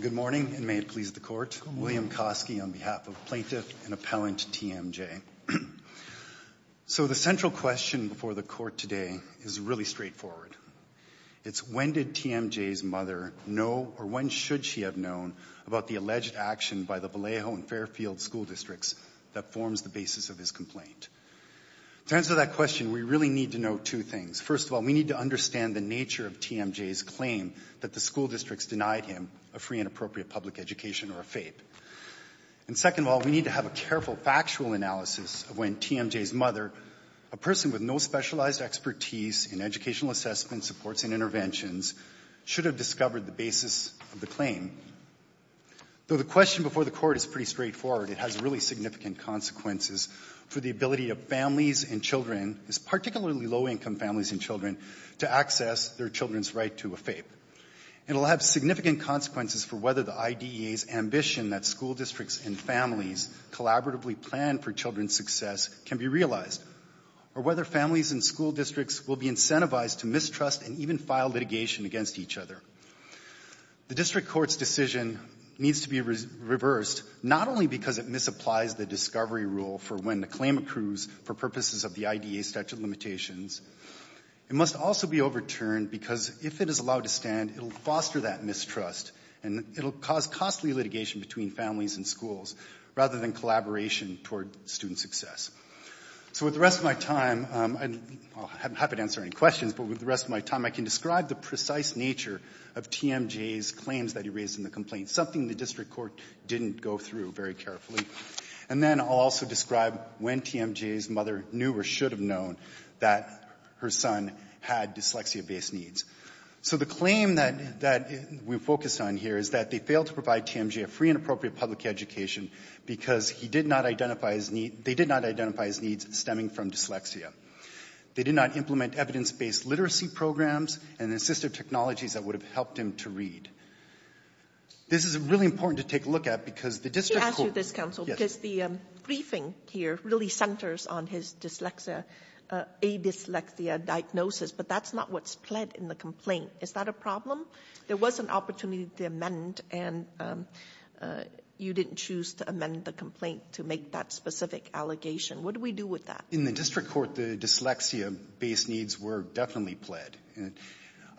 Good morning, and may it please the Court, William Koski on behalf of Plaintiff and Appellant T.M.J. So the central question before the Court today is really straightforward. It's when did T.M.J.'s mother know, or when should she have known, about the alleged action by the Vallejo and Fairfield school districts that forms the basis of his complaint? To answer that question, we really need to know two things. First of all, we need to understand the nature of T.M.J.'s claim that the school districts denied him a free and appropriate public education or a FAPE. And second of all, we need to have a careful factual analysis of when T.M.J.'s mother, a person with no specialized expertise in educational assessment supports and interventions, should have discovered the basis of the claim. Though the question before the Court is pretty straightforward, it has really significant consequences for the ability of families and children, particularly low-income families and children, to access their children's right to a FAPE. It will have significant consequences for whether the IDEA's ambition that school districts and families collaboratively plan for children's success can be realized, or whether families and school districts will be incentivized to mistrust and even file litigation against each other. The district court's decision needs to be reversed not only because it misapplies the discovery rule for when the claim accrues for purposes of the IDEA statute of limitations, it must also be overturned because if it is allowed to stand, it will foster that mistrust and it will cause costly litigation between families and schools rather than collaboration toward student success. So with the rest of my time, I'm happy to answer any questions, but with the rest of my time I can describe the precise nature of T.M.J.'s claims that he raised in the complaint, something the district court didn't go through very carefully. And then I'll also describe when T.M.J.'s mother knew or should have known that her son had dyslexia-based needs. So the claim that we focused on here is that they failed to provide T.M.J. a free and appropriate public education because he did not identify his need, they did not identify his needs stemming from dyslexia. They did not implement evidence-based literacy programs and assistive technologies that would have helped him to read. This is really important to take a look at because the district court... She asked you this, counsel, because the briefing here really centers on his dyslexia, a dyslexia diagnosis, but that's not what's pled in the complaint. Is that a problem? There was an opportunity to amend and you didn't choose to amend the complaint to make that specific allegation. What do we do with that? In the district court, the dyslexia-based needs were definitely pled.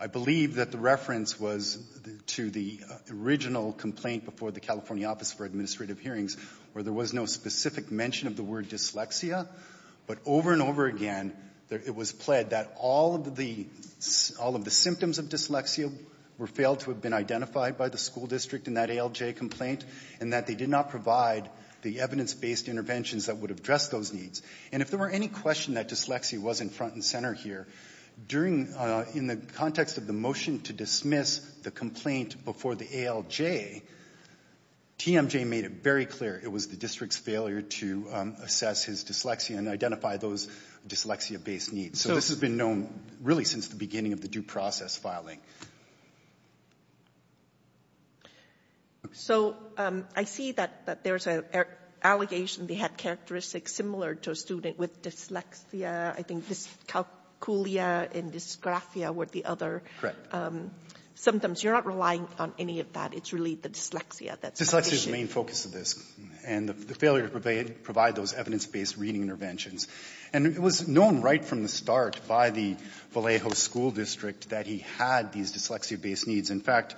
I believe that the reference was to the original complaint before the California Office for Administrative Hearings where there was no specific mention of the word dyslexia, but over and over again it was pled that all of the symptoms of dyslexia were failed to have been identified by the school district in that ALJ complaint and that they did not provide the evidence-based interventions that would address those needs. And if there were any question that dyslexia was in front and center here, in the context of the motion to dismiss the complaint before the ALJ, TMJ made it very clear it was the district's failure to assess his dyslexia and identify those dyslexia-based needs. So this has been known really since the beginning of the due process filing. So I see that there's an allegation they had characteristics similar to a student with dyslexia. I think dyscalculia and dysgraphia were the other symptoms. You're not relying on any of that. It's really the dyslexia that's the issue. Dyslexia is the main focus of this and the failure to provide those evidence-based reading interventions. And it was known right from the start by the Vallejo School District that he had these dyslexia-based needs. In fact,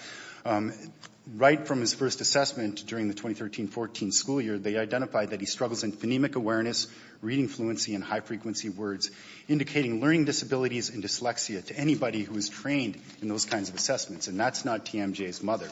right from his first assessment during the 2013-14 school year, they identified that he struggles in phonemic awareness, reading fluency, and high-frequency words, indicating learning disabilities and dyslexia to anybody who is trained in those kinds of assessments. And that's not TMJ's mother.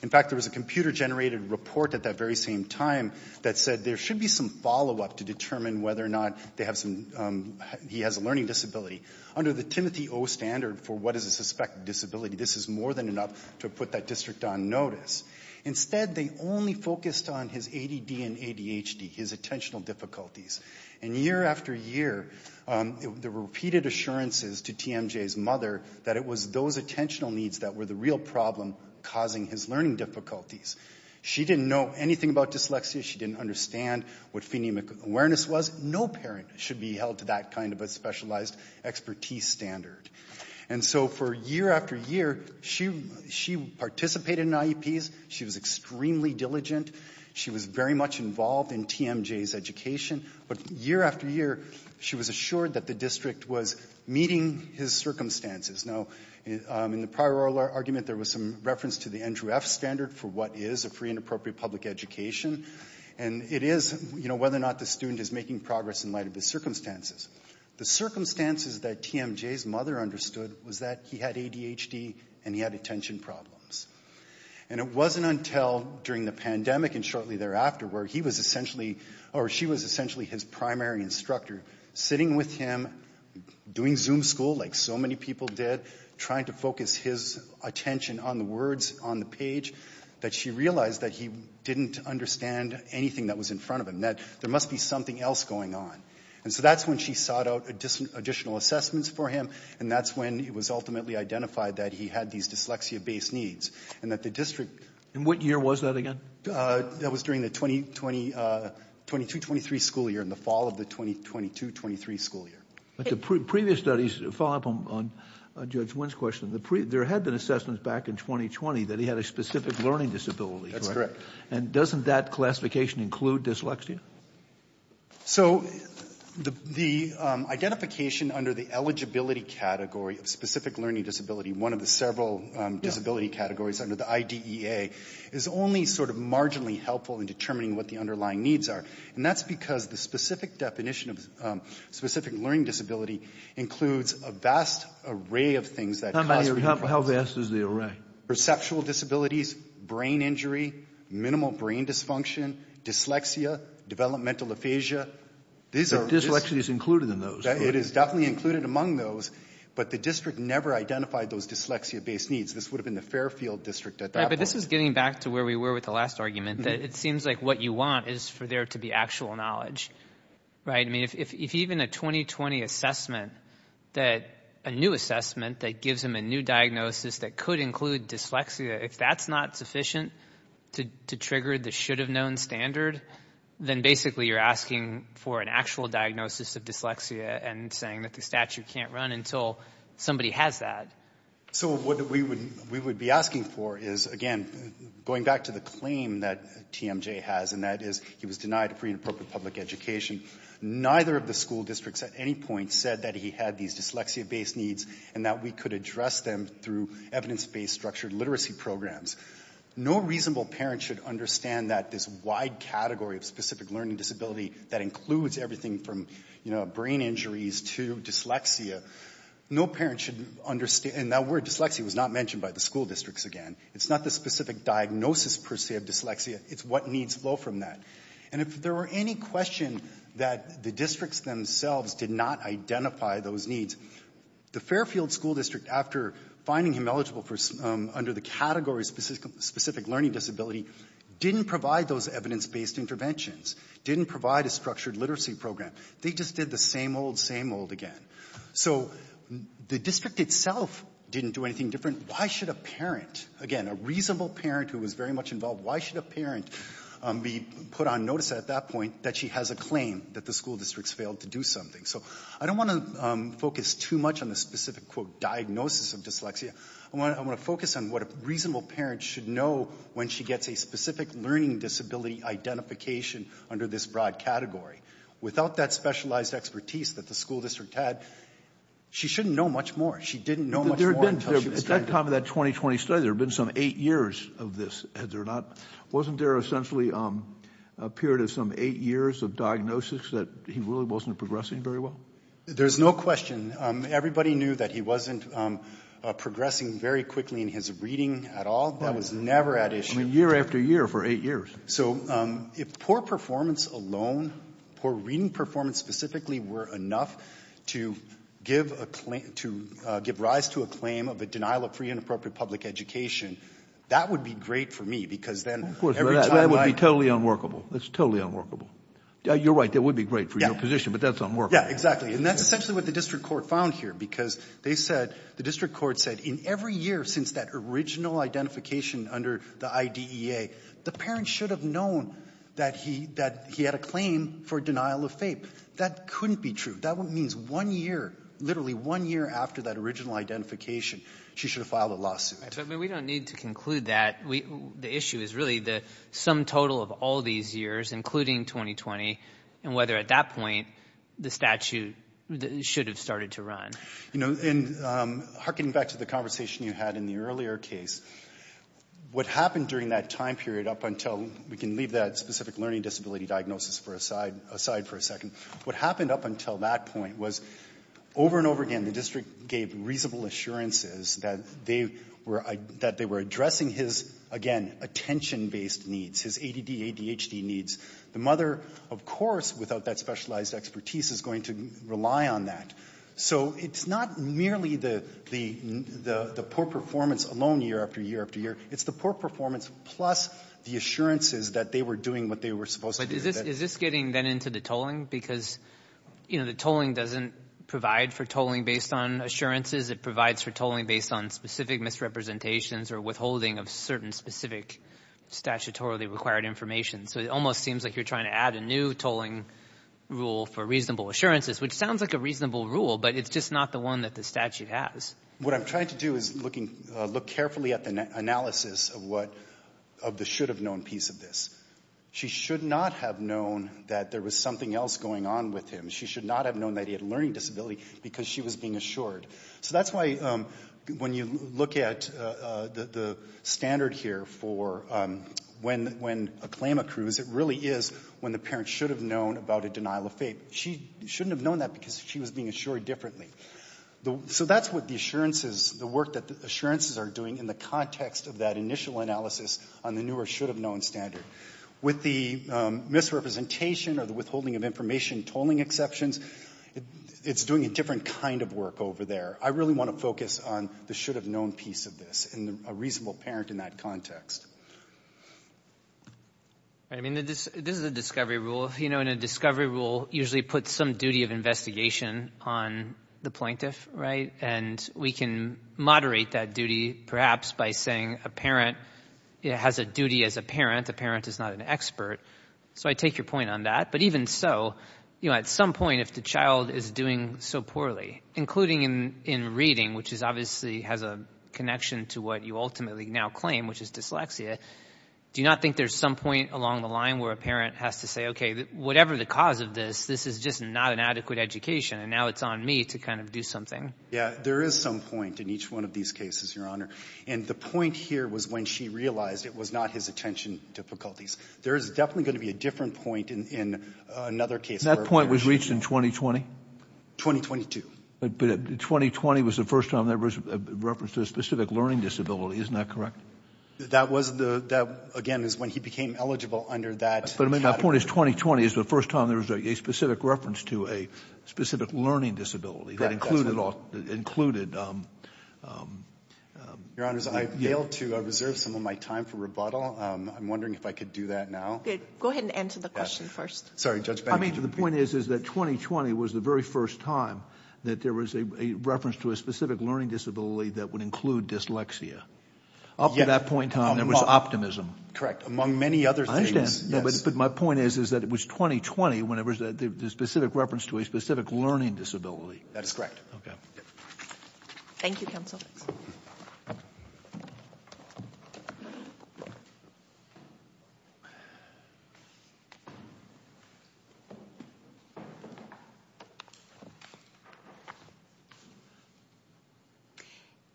In fact, there was a computer-generated report at that very same time that said there should be some follow-up to determine whether or not they have some, he has a learning disability. Under the Timothy O. Standard for what is a suspected disability, this is more than enough to put that district on notice. Instead, they only focused on his ADD and ADHD, his attentional difficulties. And year after year, there were repeated assurances to TMJ's mother that it was those attentional needs that were the real problem causing his learning difficulties. She didn't know anything about dyslexia. She didn't understand what phonemic awareness was. No parent should be held to that kind of a specialized expertise standard. And so for year after year, she participated in IEPs. She was extremely diligent. She was very much involved in TMJ's education. But year after year, she was assured that the district was meeting his circumstances. Now, in the prior oral argument, there was some reference to the Andrew F. Standard for what is a free and appropriate public education. And it is, you know, whether or not the student is making progress in light of his circumstances. The circumstances that TMJ's mother understood was that he had ADHD and he had attention problems. And it wasn't until during the pandemic and shortly thereafter where he was essentially or she was essentially his primary instructor, sitting with him, doing Zoom school like so many people did, trying to focus his attention on the words on the page, that she realized that he didn't understand anything that was in front of him, that there must be something else going on. And so that's when she sought out additional assessments for him. And that's when it was ultimately identified that he had these dyslexia-based needs and that the district... And what year was that again? That was during the 2020-23 school year and the fall of the 2022-23 school year. But the previous studies, following up on Judge Wynn's question, there had been assessments back in 2020 that he had a specific learning disability, correct? That's correct. And doesn't that classification include dyslexia? So the identification under the eligibility category of specific learning disability, one of the several disability categories under the IDEA, is only sort of marginally helpful in determining what the underlying needs are. And that's because the specific definition of specific learning disability includes a vast array of things that cause... How vast is the array? Perceptual disabilities, brain injury, minimal brain dysfunction, dyslexia, developmental aphasia. So dyslexia is included in those? It is definitely included among those, but the district never identified those dyslexia-based needs. This would have been the Fairfield district at that point. Right, but this is getting back to where we were with the last argument, that it seems like what you want is for there to be actual knowledge, right? I mean, if even a 2020 assessment that a new assessment that gives them a new diagnosis that could include dyslexia, if that's not sufficient to trigger the should-have-known standard, then basically you're asking for an actual diagnosis of dyslexia and saying that the statute can't run until somebody has that. So what we would be asking for is, again, going back to the claim that TMJ has, and that is he was denied a free and appropriate public education, neither of the school districts at any point said that he had these dyslexia-based needs and that we could address them through evidence-based structured literacy programs. No reasonable parent should understand that this wide category of specific learning disability that includes everything from, you know, brain injuries to dyslexia, no parent should understand and that word dyslexia was not mentioned by the school districts again. It's not the specific diagnosis per se of dyslexia, it's what needs flow from that. And if there were any question that the districts themselves did not identify those needs, the Fairfield School District, after finding him eligible under the category of specific learning disability, didn't provide those evidence-based interventions, didn't provide a structured literacy program. They just did the same old, same old again. So the district itself didn't do anything different, why should a parent, again, a reasonable parent who was very much involved, why should a parent be put on notice at that point that she has a claim that the school districts failed to do something? So I don't want to focus too much on the specific, quote, diagnosis of dyslexia, I want to focus on what a reasonable parent should know when she gets a specific learning disability identification under this broad category. Without that specialized expertise that the school district had, she shouldn't know much more. She didn't know much more until she was diagnosed. At the time of that 2020 study, there had been some eight years of this, had there not – wasn't there essentially a period of some eight years of diagnosis that he really wasn't progressing very well? There's no question. Everybody knew that he wasn't progressing very quickly in his reading at all. That was never at issue. I mean, year after year for eight years. So if poor performance alone, poor reading performance specifically were enough to give a claim – to give rise to a claim of a denial of free and appropriate public education, that would be great for me because then every time I – That would be totally unworkable. That's totally unworkable. You're right. That would be great for your position. But that's unworkable. Yeah. Exactly. And that's essentially what the district court found here because they said – the district court said in every year since that original identification under the IDEA, the parent should have known that he – that he had a claim for denial of FAPE. That couldn't be true. That means one year, literally one year after that original identification, she should have filed a lawsuit. But we don't need to conclude that. We – the issue is really the sum total of all these years, including 2020, and whether at that point the statute should have started to run. You know, and harkening back to the conversation you had in the earlier case, what happened during that time period up until – we can leave that specific learning disability diagnosis aside for a second. What happened up until that point was over and over again the district gave reasonable assurances that they were – that they were addressing his, again, attention-based needs, his ADD, ADHD needs. The mother, of course, without that specialized expertise is going to rely on that. So it's not merely the poor performance alone year after year after year. It's the poor performance plus the assurances that they were doing what they were supposed to do. But is this getting then into the tolling? Because, you know, the tolling doesn't provide for tolling based on assurances. It provides for tolling based on specific misrepresentations or withholding of certain specific statutorily required information. So it almost seems like you're trying to add a new tolling rule for reasonable assurances, which sounds like a reasonable rule, but it's just not the one that the statute has. What I'm trying to do is looking – look carefully at the analysis of what – of the should-have-known piece of this. She should not have known that there was something else going on with him. She should not have known that he had a learning disability because she was being assured. So that's why when you look at the standard here for when a claim accrues, it really is when the parent should have known about a denial of fate. She shouldn't have known that because she was being assured differently. So that's what the assurances – the work that the assurances are doing in the context of that initial analysis on the new or should-have-known standard. With the misrepresentation or the withholding of information tolling exceptions, it's doing a different kind of work over there. I really want to focus on the should-have-known piece of this and a reasonable parent in that Right. I mean, this is a discovery rule. You know, and a discovery rule usually puts some duty of investigation on the plaintiff, right? And we can moderate that duty perhaps by saying a parent has a duty as a parent. A parent is not an expert. So I take your point on that. But even so, you know, at some point if the child is doing so poorly, including in reading, which obviously has a connection to what you ultimately now claim, which is dyslexia, do you not think there's some point along the line where a parent has to say, okay, whatever the cause of this, this is just not an adequate education and now it's on me to kind of do something? Yeah. There is some point in each one of these cases, Your Honor. And the point here was when she realized it was not his attention difficulties. There is definitely going to be a different point in another case. That point was reached in 2020? But 2020 was the first time there was a reference to a specific learning disability. Isn't that correct? That was the, that again is when he became eligible under that. But I mean, my point is 2020 is the first time there was a specific reference to a specific learning disability that included, included, um, um, um, Your Honors, I failed to reserve some of my time for rebuttal. Um, I'm wondering if I could do that now. Go ahead and answer the question first. Sorry, Judge Bannon. I mean, the point is, is that 2020 was the very first time that there was a reference to a specific learning disability that would include dyslexia. Up to that point in time, there was optimism. Correct. Among many other things. But my point is, is that it was 2020 when there was a specific reference to a specific learning disability. That is correct. Thank you, Counsel.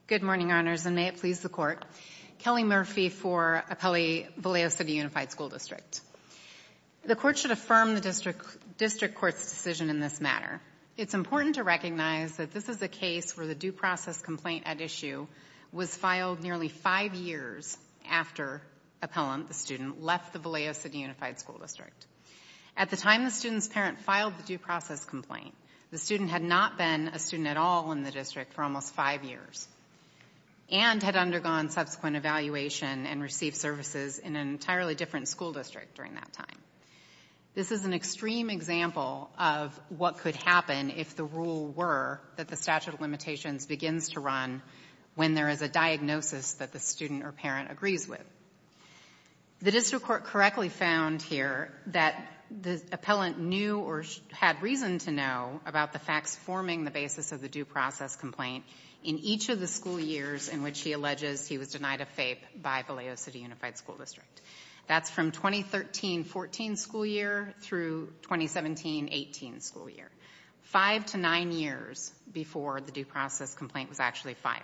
Good morning, Your Honors, and may it please the Court. Kelly Murphy for Appellee Vallejo City Unified School District. The Court should affirm the District Court's decision in this matter. It's important to recognize that this is a case where the due process complaint at issue was filed nearly five years after Appellant, the student, left the Vallejo City Unified School District. At the time the student's parent filed the due process complaint, the student had not been a student at all in the district for almost five years, and had undergone subsequent evaluation and received services in an entirely different school district during that time. This is an extreme example of what could happen if the rule were that the statute of limitations begins to run when there is a diagnosis that the student or parent agrees with. The District Court correctly found here that the Appellant knew or had reason to know about the facts forming the basis of the due process complaint in each of the school years in which he alleges he was denied a FAPE by Vallejo City Unified School District. That's from 2013-14 school year through 2017-18 school year. Five to nine years before the due process complaint was actually filed.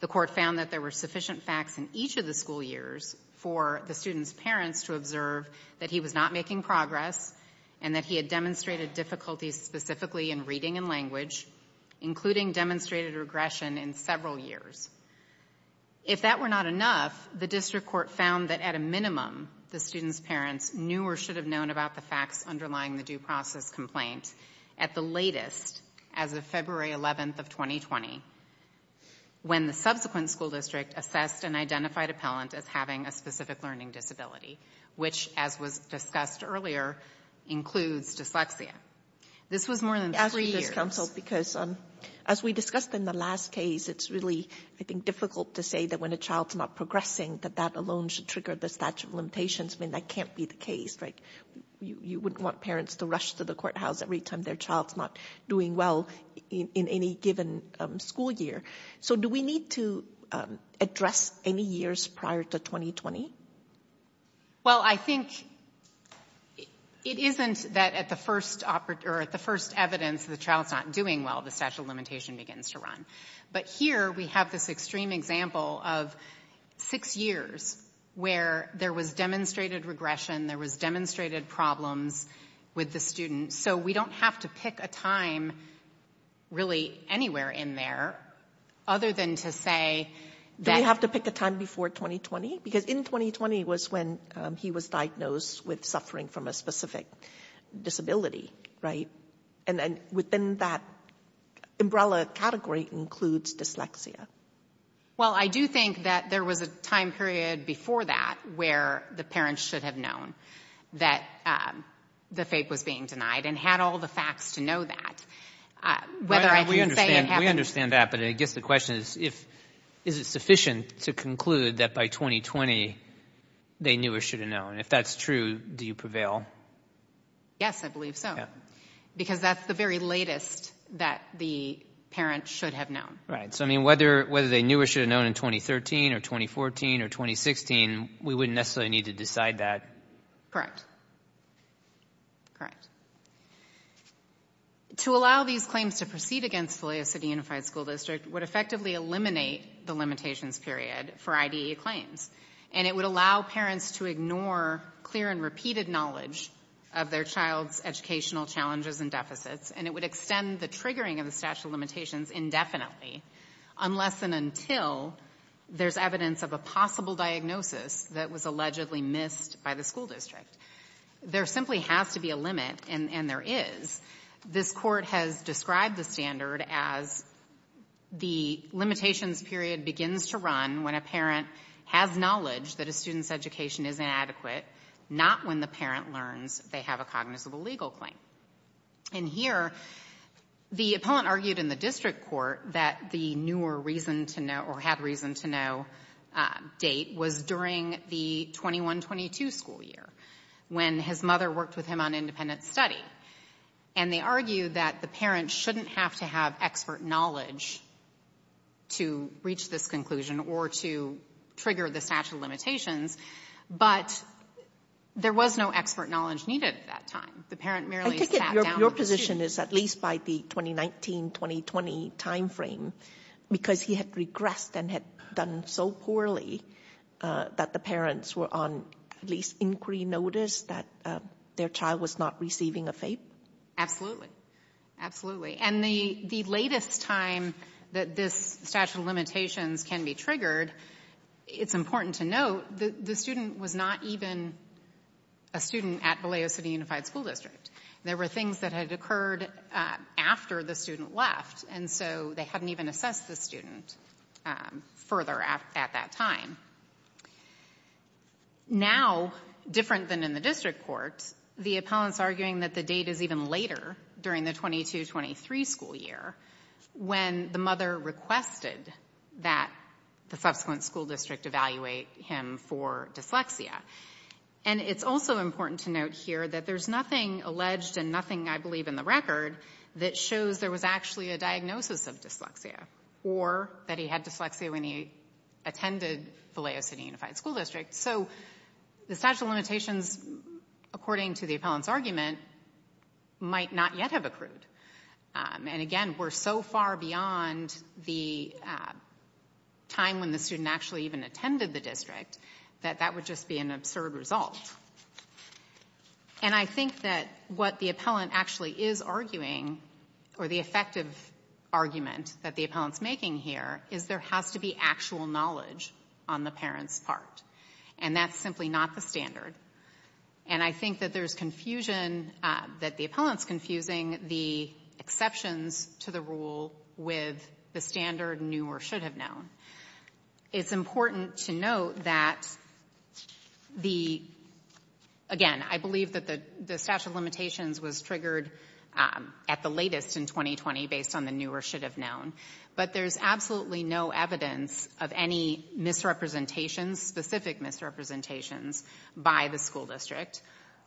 The Court found that there were sufficient facts in each of the school years for the student's parents to observe that he was not making progress and that he had demonstrated difficulties specifically in reading and language, including demonstrated regression in several years. If that were not enough, the District Court found that at a minimum, the student's parents knew or should have known about the facts underlying the due process complaint at the latest as of February 11th of 2020, when the subsequent school district assessed and identified Appellant as having a specific learning disability, which as was discussed earlier, includes dyslexia. This was more than three years. Thank you, Counsel, because as we discussed in the last case, it's really, I think, difficult to say that when a child's not progressing, that that alone should trigger the statute of limitations. I mean, that can't be the case, right? You wouldn't want parents to rush to the courthouse every time their child's not doing well in any given school year. So do we need to address any years prior to 2020? Well, I think it isn't that at the first evidence the child's not doing well, the statute of limitations begins to run. But here we have this extreme example of six years where there was demonstrated regression, there was demonstrated problems with the student. So we don't have to pick a time, really, anywhere in there, other than to say that... Do we have to pick a time before 2020? Because in 2020 was when he was diagnosed with suffering from a specific disability, right? And then within that umbrella category includes dyslexia. Well, I do think that there was a time period before that where the parents should have known that the FAPE was being denied and had all the facts to know that. Whether I can say... We understand that, but I guess the question is, is it sufficient to conclude that by 2020 they knew or should have known? If that's true, do you prevail? Yes, I believe so. Because that's the very latest that the parent should have known. Right. So I mean, whether they knew or should have known in 2013 or 2014 or 2016, we wouldn't necessarily need to decide that. Correct. Correct. To allow these claims to proceed against the way a city-unified school district would effectively eliminate the limitations period for IDEA claims, and it would allow parents to ignore clear and repeated knowledge of their child's educational challenges and deficits, and it would extend the triggering of the statute of limitations indefinitely, unless and until there's evidence of a possible diagnosis that was allegedly missed by the school district. There simply has to be a limit, and there is. This Court has described the standard as the limitations period begins to run when a parent has knowledge that a student's education is inadequate, not when the parent learns they have a cognizable legal claim. And here, the appellant argued in the district court that the knew or reason to know or had to have expert knowledge to reach this conclusion or to trigger the statute of limitations, but there was no expert knowledge needed at that time. The parent merely sat down with the student. I take it your position is at least by the 2019-2020 timeframe, because he had regressed and had done so poorly, that the parents were on at least inquiry notice that their child was not receiving a FAPE? Absolutely. Absolutely. And the latest time that this statute of limitations can be triggered, it's important to note that the student was not even a student at Vallejo City Unified School District. There were things that had occurred after the student left, and so they hadn't even assessed the student further at that time. Now, different than in the district court, the appellant's arguing that the date is even later during the 22-23 school year when the mother requested that the subsequent school district evaluate him for dyslexia. And it's also important to note here that there's nothing alleged and nothing, I believe, in the record that shows there was actually a diagnosis of dyslexia or that he had dyslexia when he attended Vallejo City Unified School District. So the statute of limitations, according to the appellant's argument, might not yet have accrued. And again, we're so far beyond the time when the student actually even attended the district that that would just be an absurd result. And I think that what the appellant actually is arguing, or the effective argument that the appellant's making here, is there has to be actual knowledge on the parent's part. And that's simply not the standard. And I think that there's confusion, that the appellant's confusing the exceptions to the rule with the standard knew or should have known. It's important to note that the, again, I believe that the statute of limitations was triggered at the latest in 2020 based on the knew or should have known, but there's absolutely no evidence of any misrepresentations, specific misrepresentations, by the school district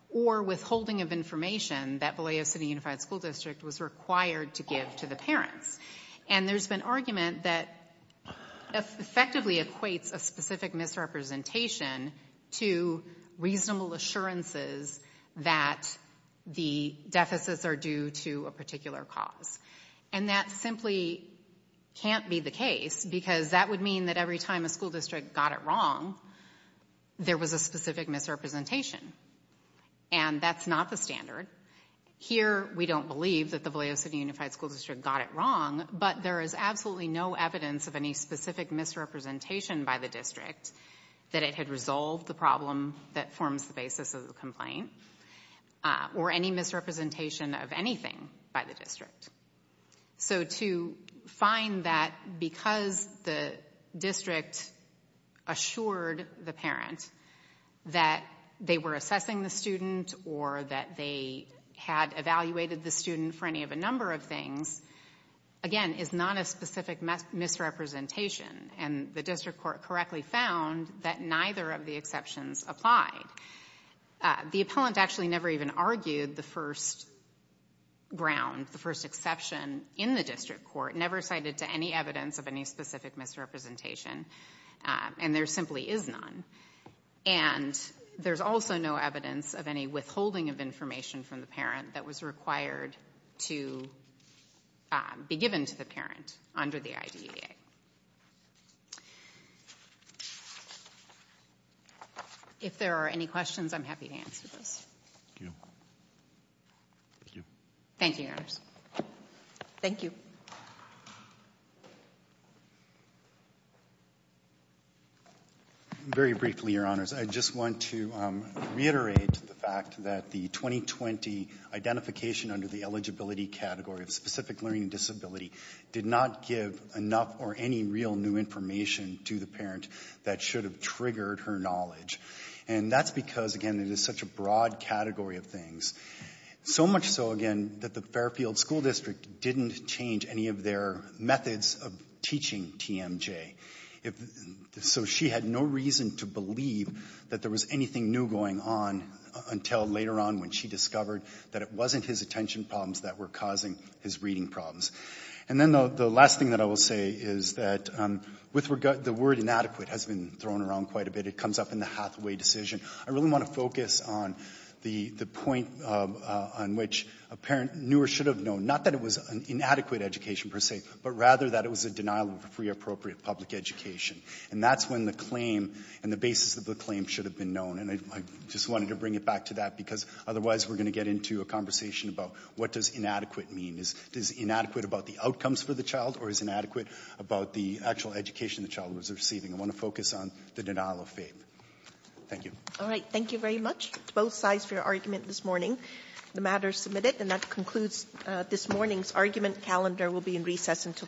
or withholding of information that Vallejo City Unified School District was required to give to the parents. And there's been argument that effectively equates a specific misrepresentation to reasonable assurances that the deficits are due to a particular cause. And that simply can't be the case, because that would mean that every time a school district got it wrong, there was a specific misrepresentation. And that's not the standard. Here, we don't believe that the Vallejo City Unified School District got it wrong, but there is absolutely no evidence of any specific misrepresentation by the district that it had resolved the problem that forms the basis of the complaint, or any misrepresentation of anything by the district. So to find that because the district assured the parent that they were assessing the student or that they had evaluated the student for any of a number of things, again, is not a specific misrepresentation. And the district court correctly found that neither of the exceptions applied. The appellant actually never even argued the first ground, the first exception in the district court, never cited to any evidence of any specific misrepresentation. And there simply is none. And there's also no evidence of any withholding of information from the parent that was required to be given to the parent under the IDEA. If there are any questions, I'm happy to answer those. Thank you. Thank you. Thank you, Your Honors. Thank you. Very briefly, Your Honors, I just want to reiterate the fact that the 2020 identification under the eligibility category of specific learning disability did not give enough or any real new information to the parent that should have triggered her knowledge. And that's because, again, it is such a broad category of things, so much so, again, that the Fairfield School District didn't change any of their methods of teaching TMJ. So she had no reason to believe that there was anything new going on until later on when she discovered that it wasn't his attention problems that were causing his reading problems. And then the last thing that I will say is that with regard, the word inadequate has been thrown around quite a bit. It comes up in the Hathaway decision. I really want to focus on the point on which a parent knew or should have known, not that it was an inadequate education per se, but rather that it was a denial of a free, appropriate public education. And that's when the claim and the basis of the claim should have been known. And I just wanted to bring it back to that because otherwise we're going to get into a conversation about what does inadequate mean. Is it inadequate about the outcomes for the child or is it inadequate about the actual education the child was receiving? I want to focus on the denial of faith. Thank you. All right. Thank you very much to both sides for your argument this morning. The matter is submitted and that concludes this morning's argument. Calendar will be in recess until tomorrow morning.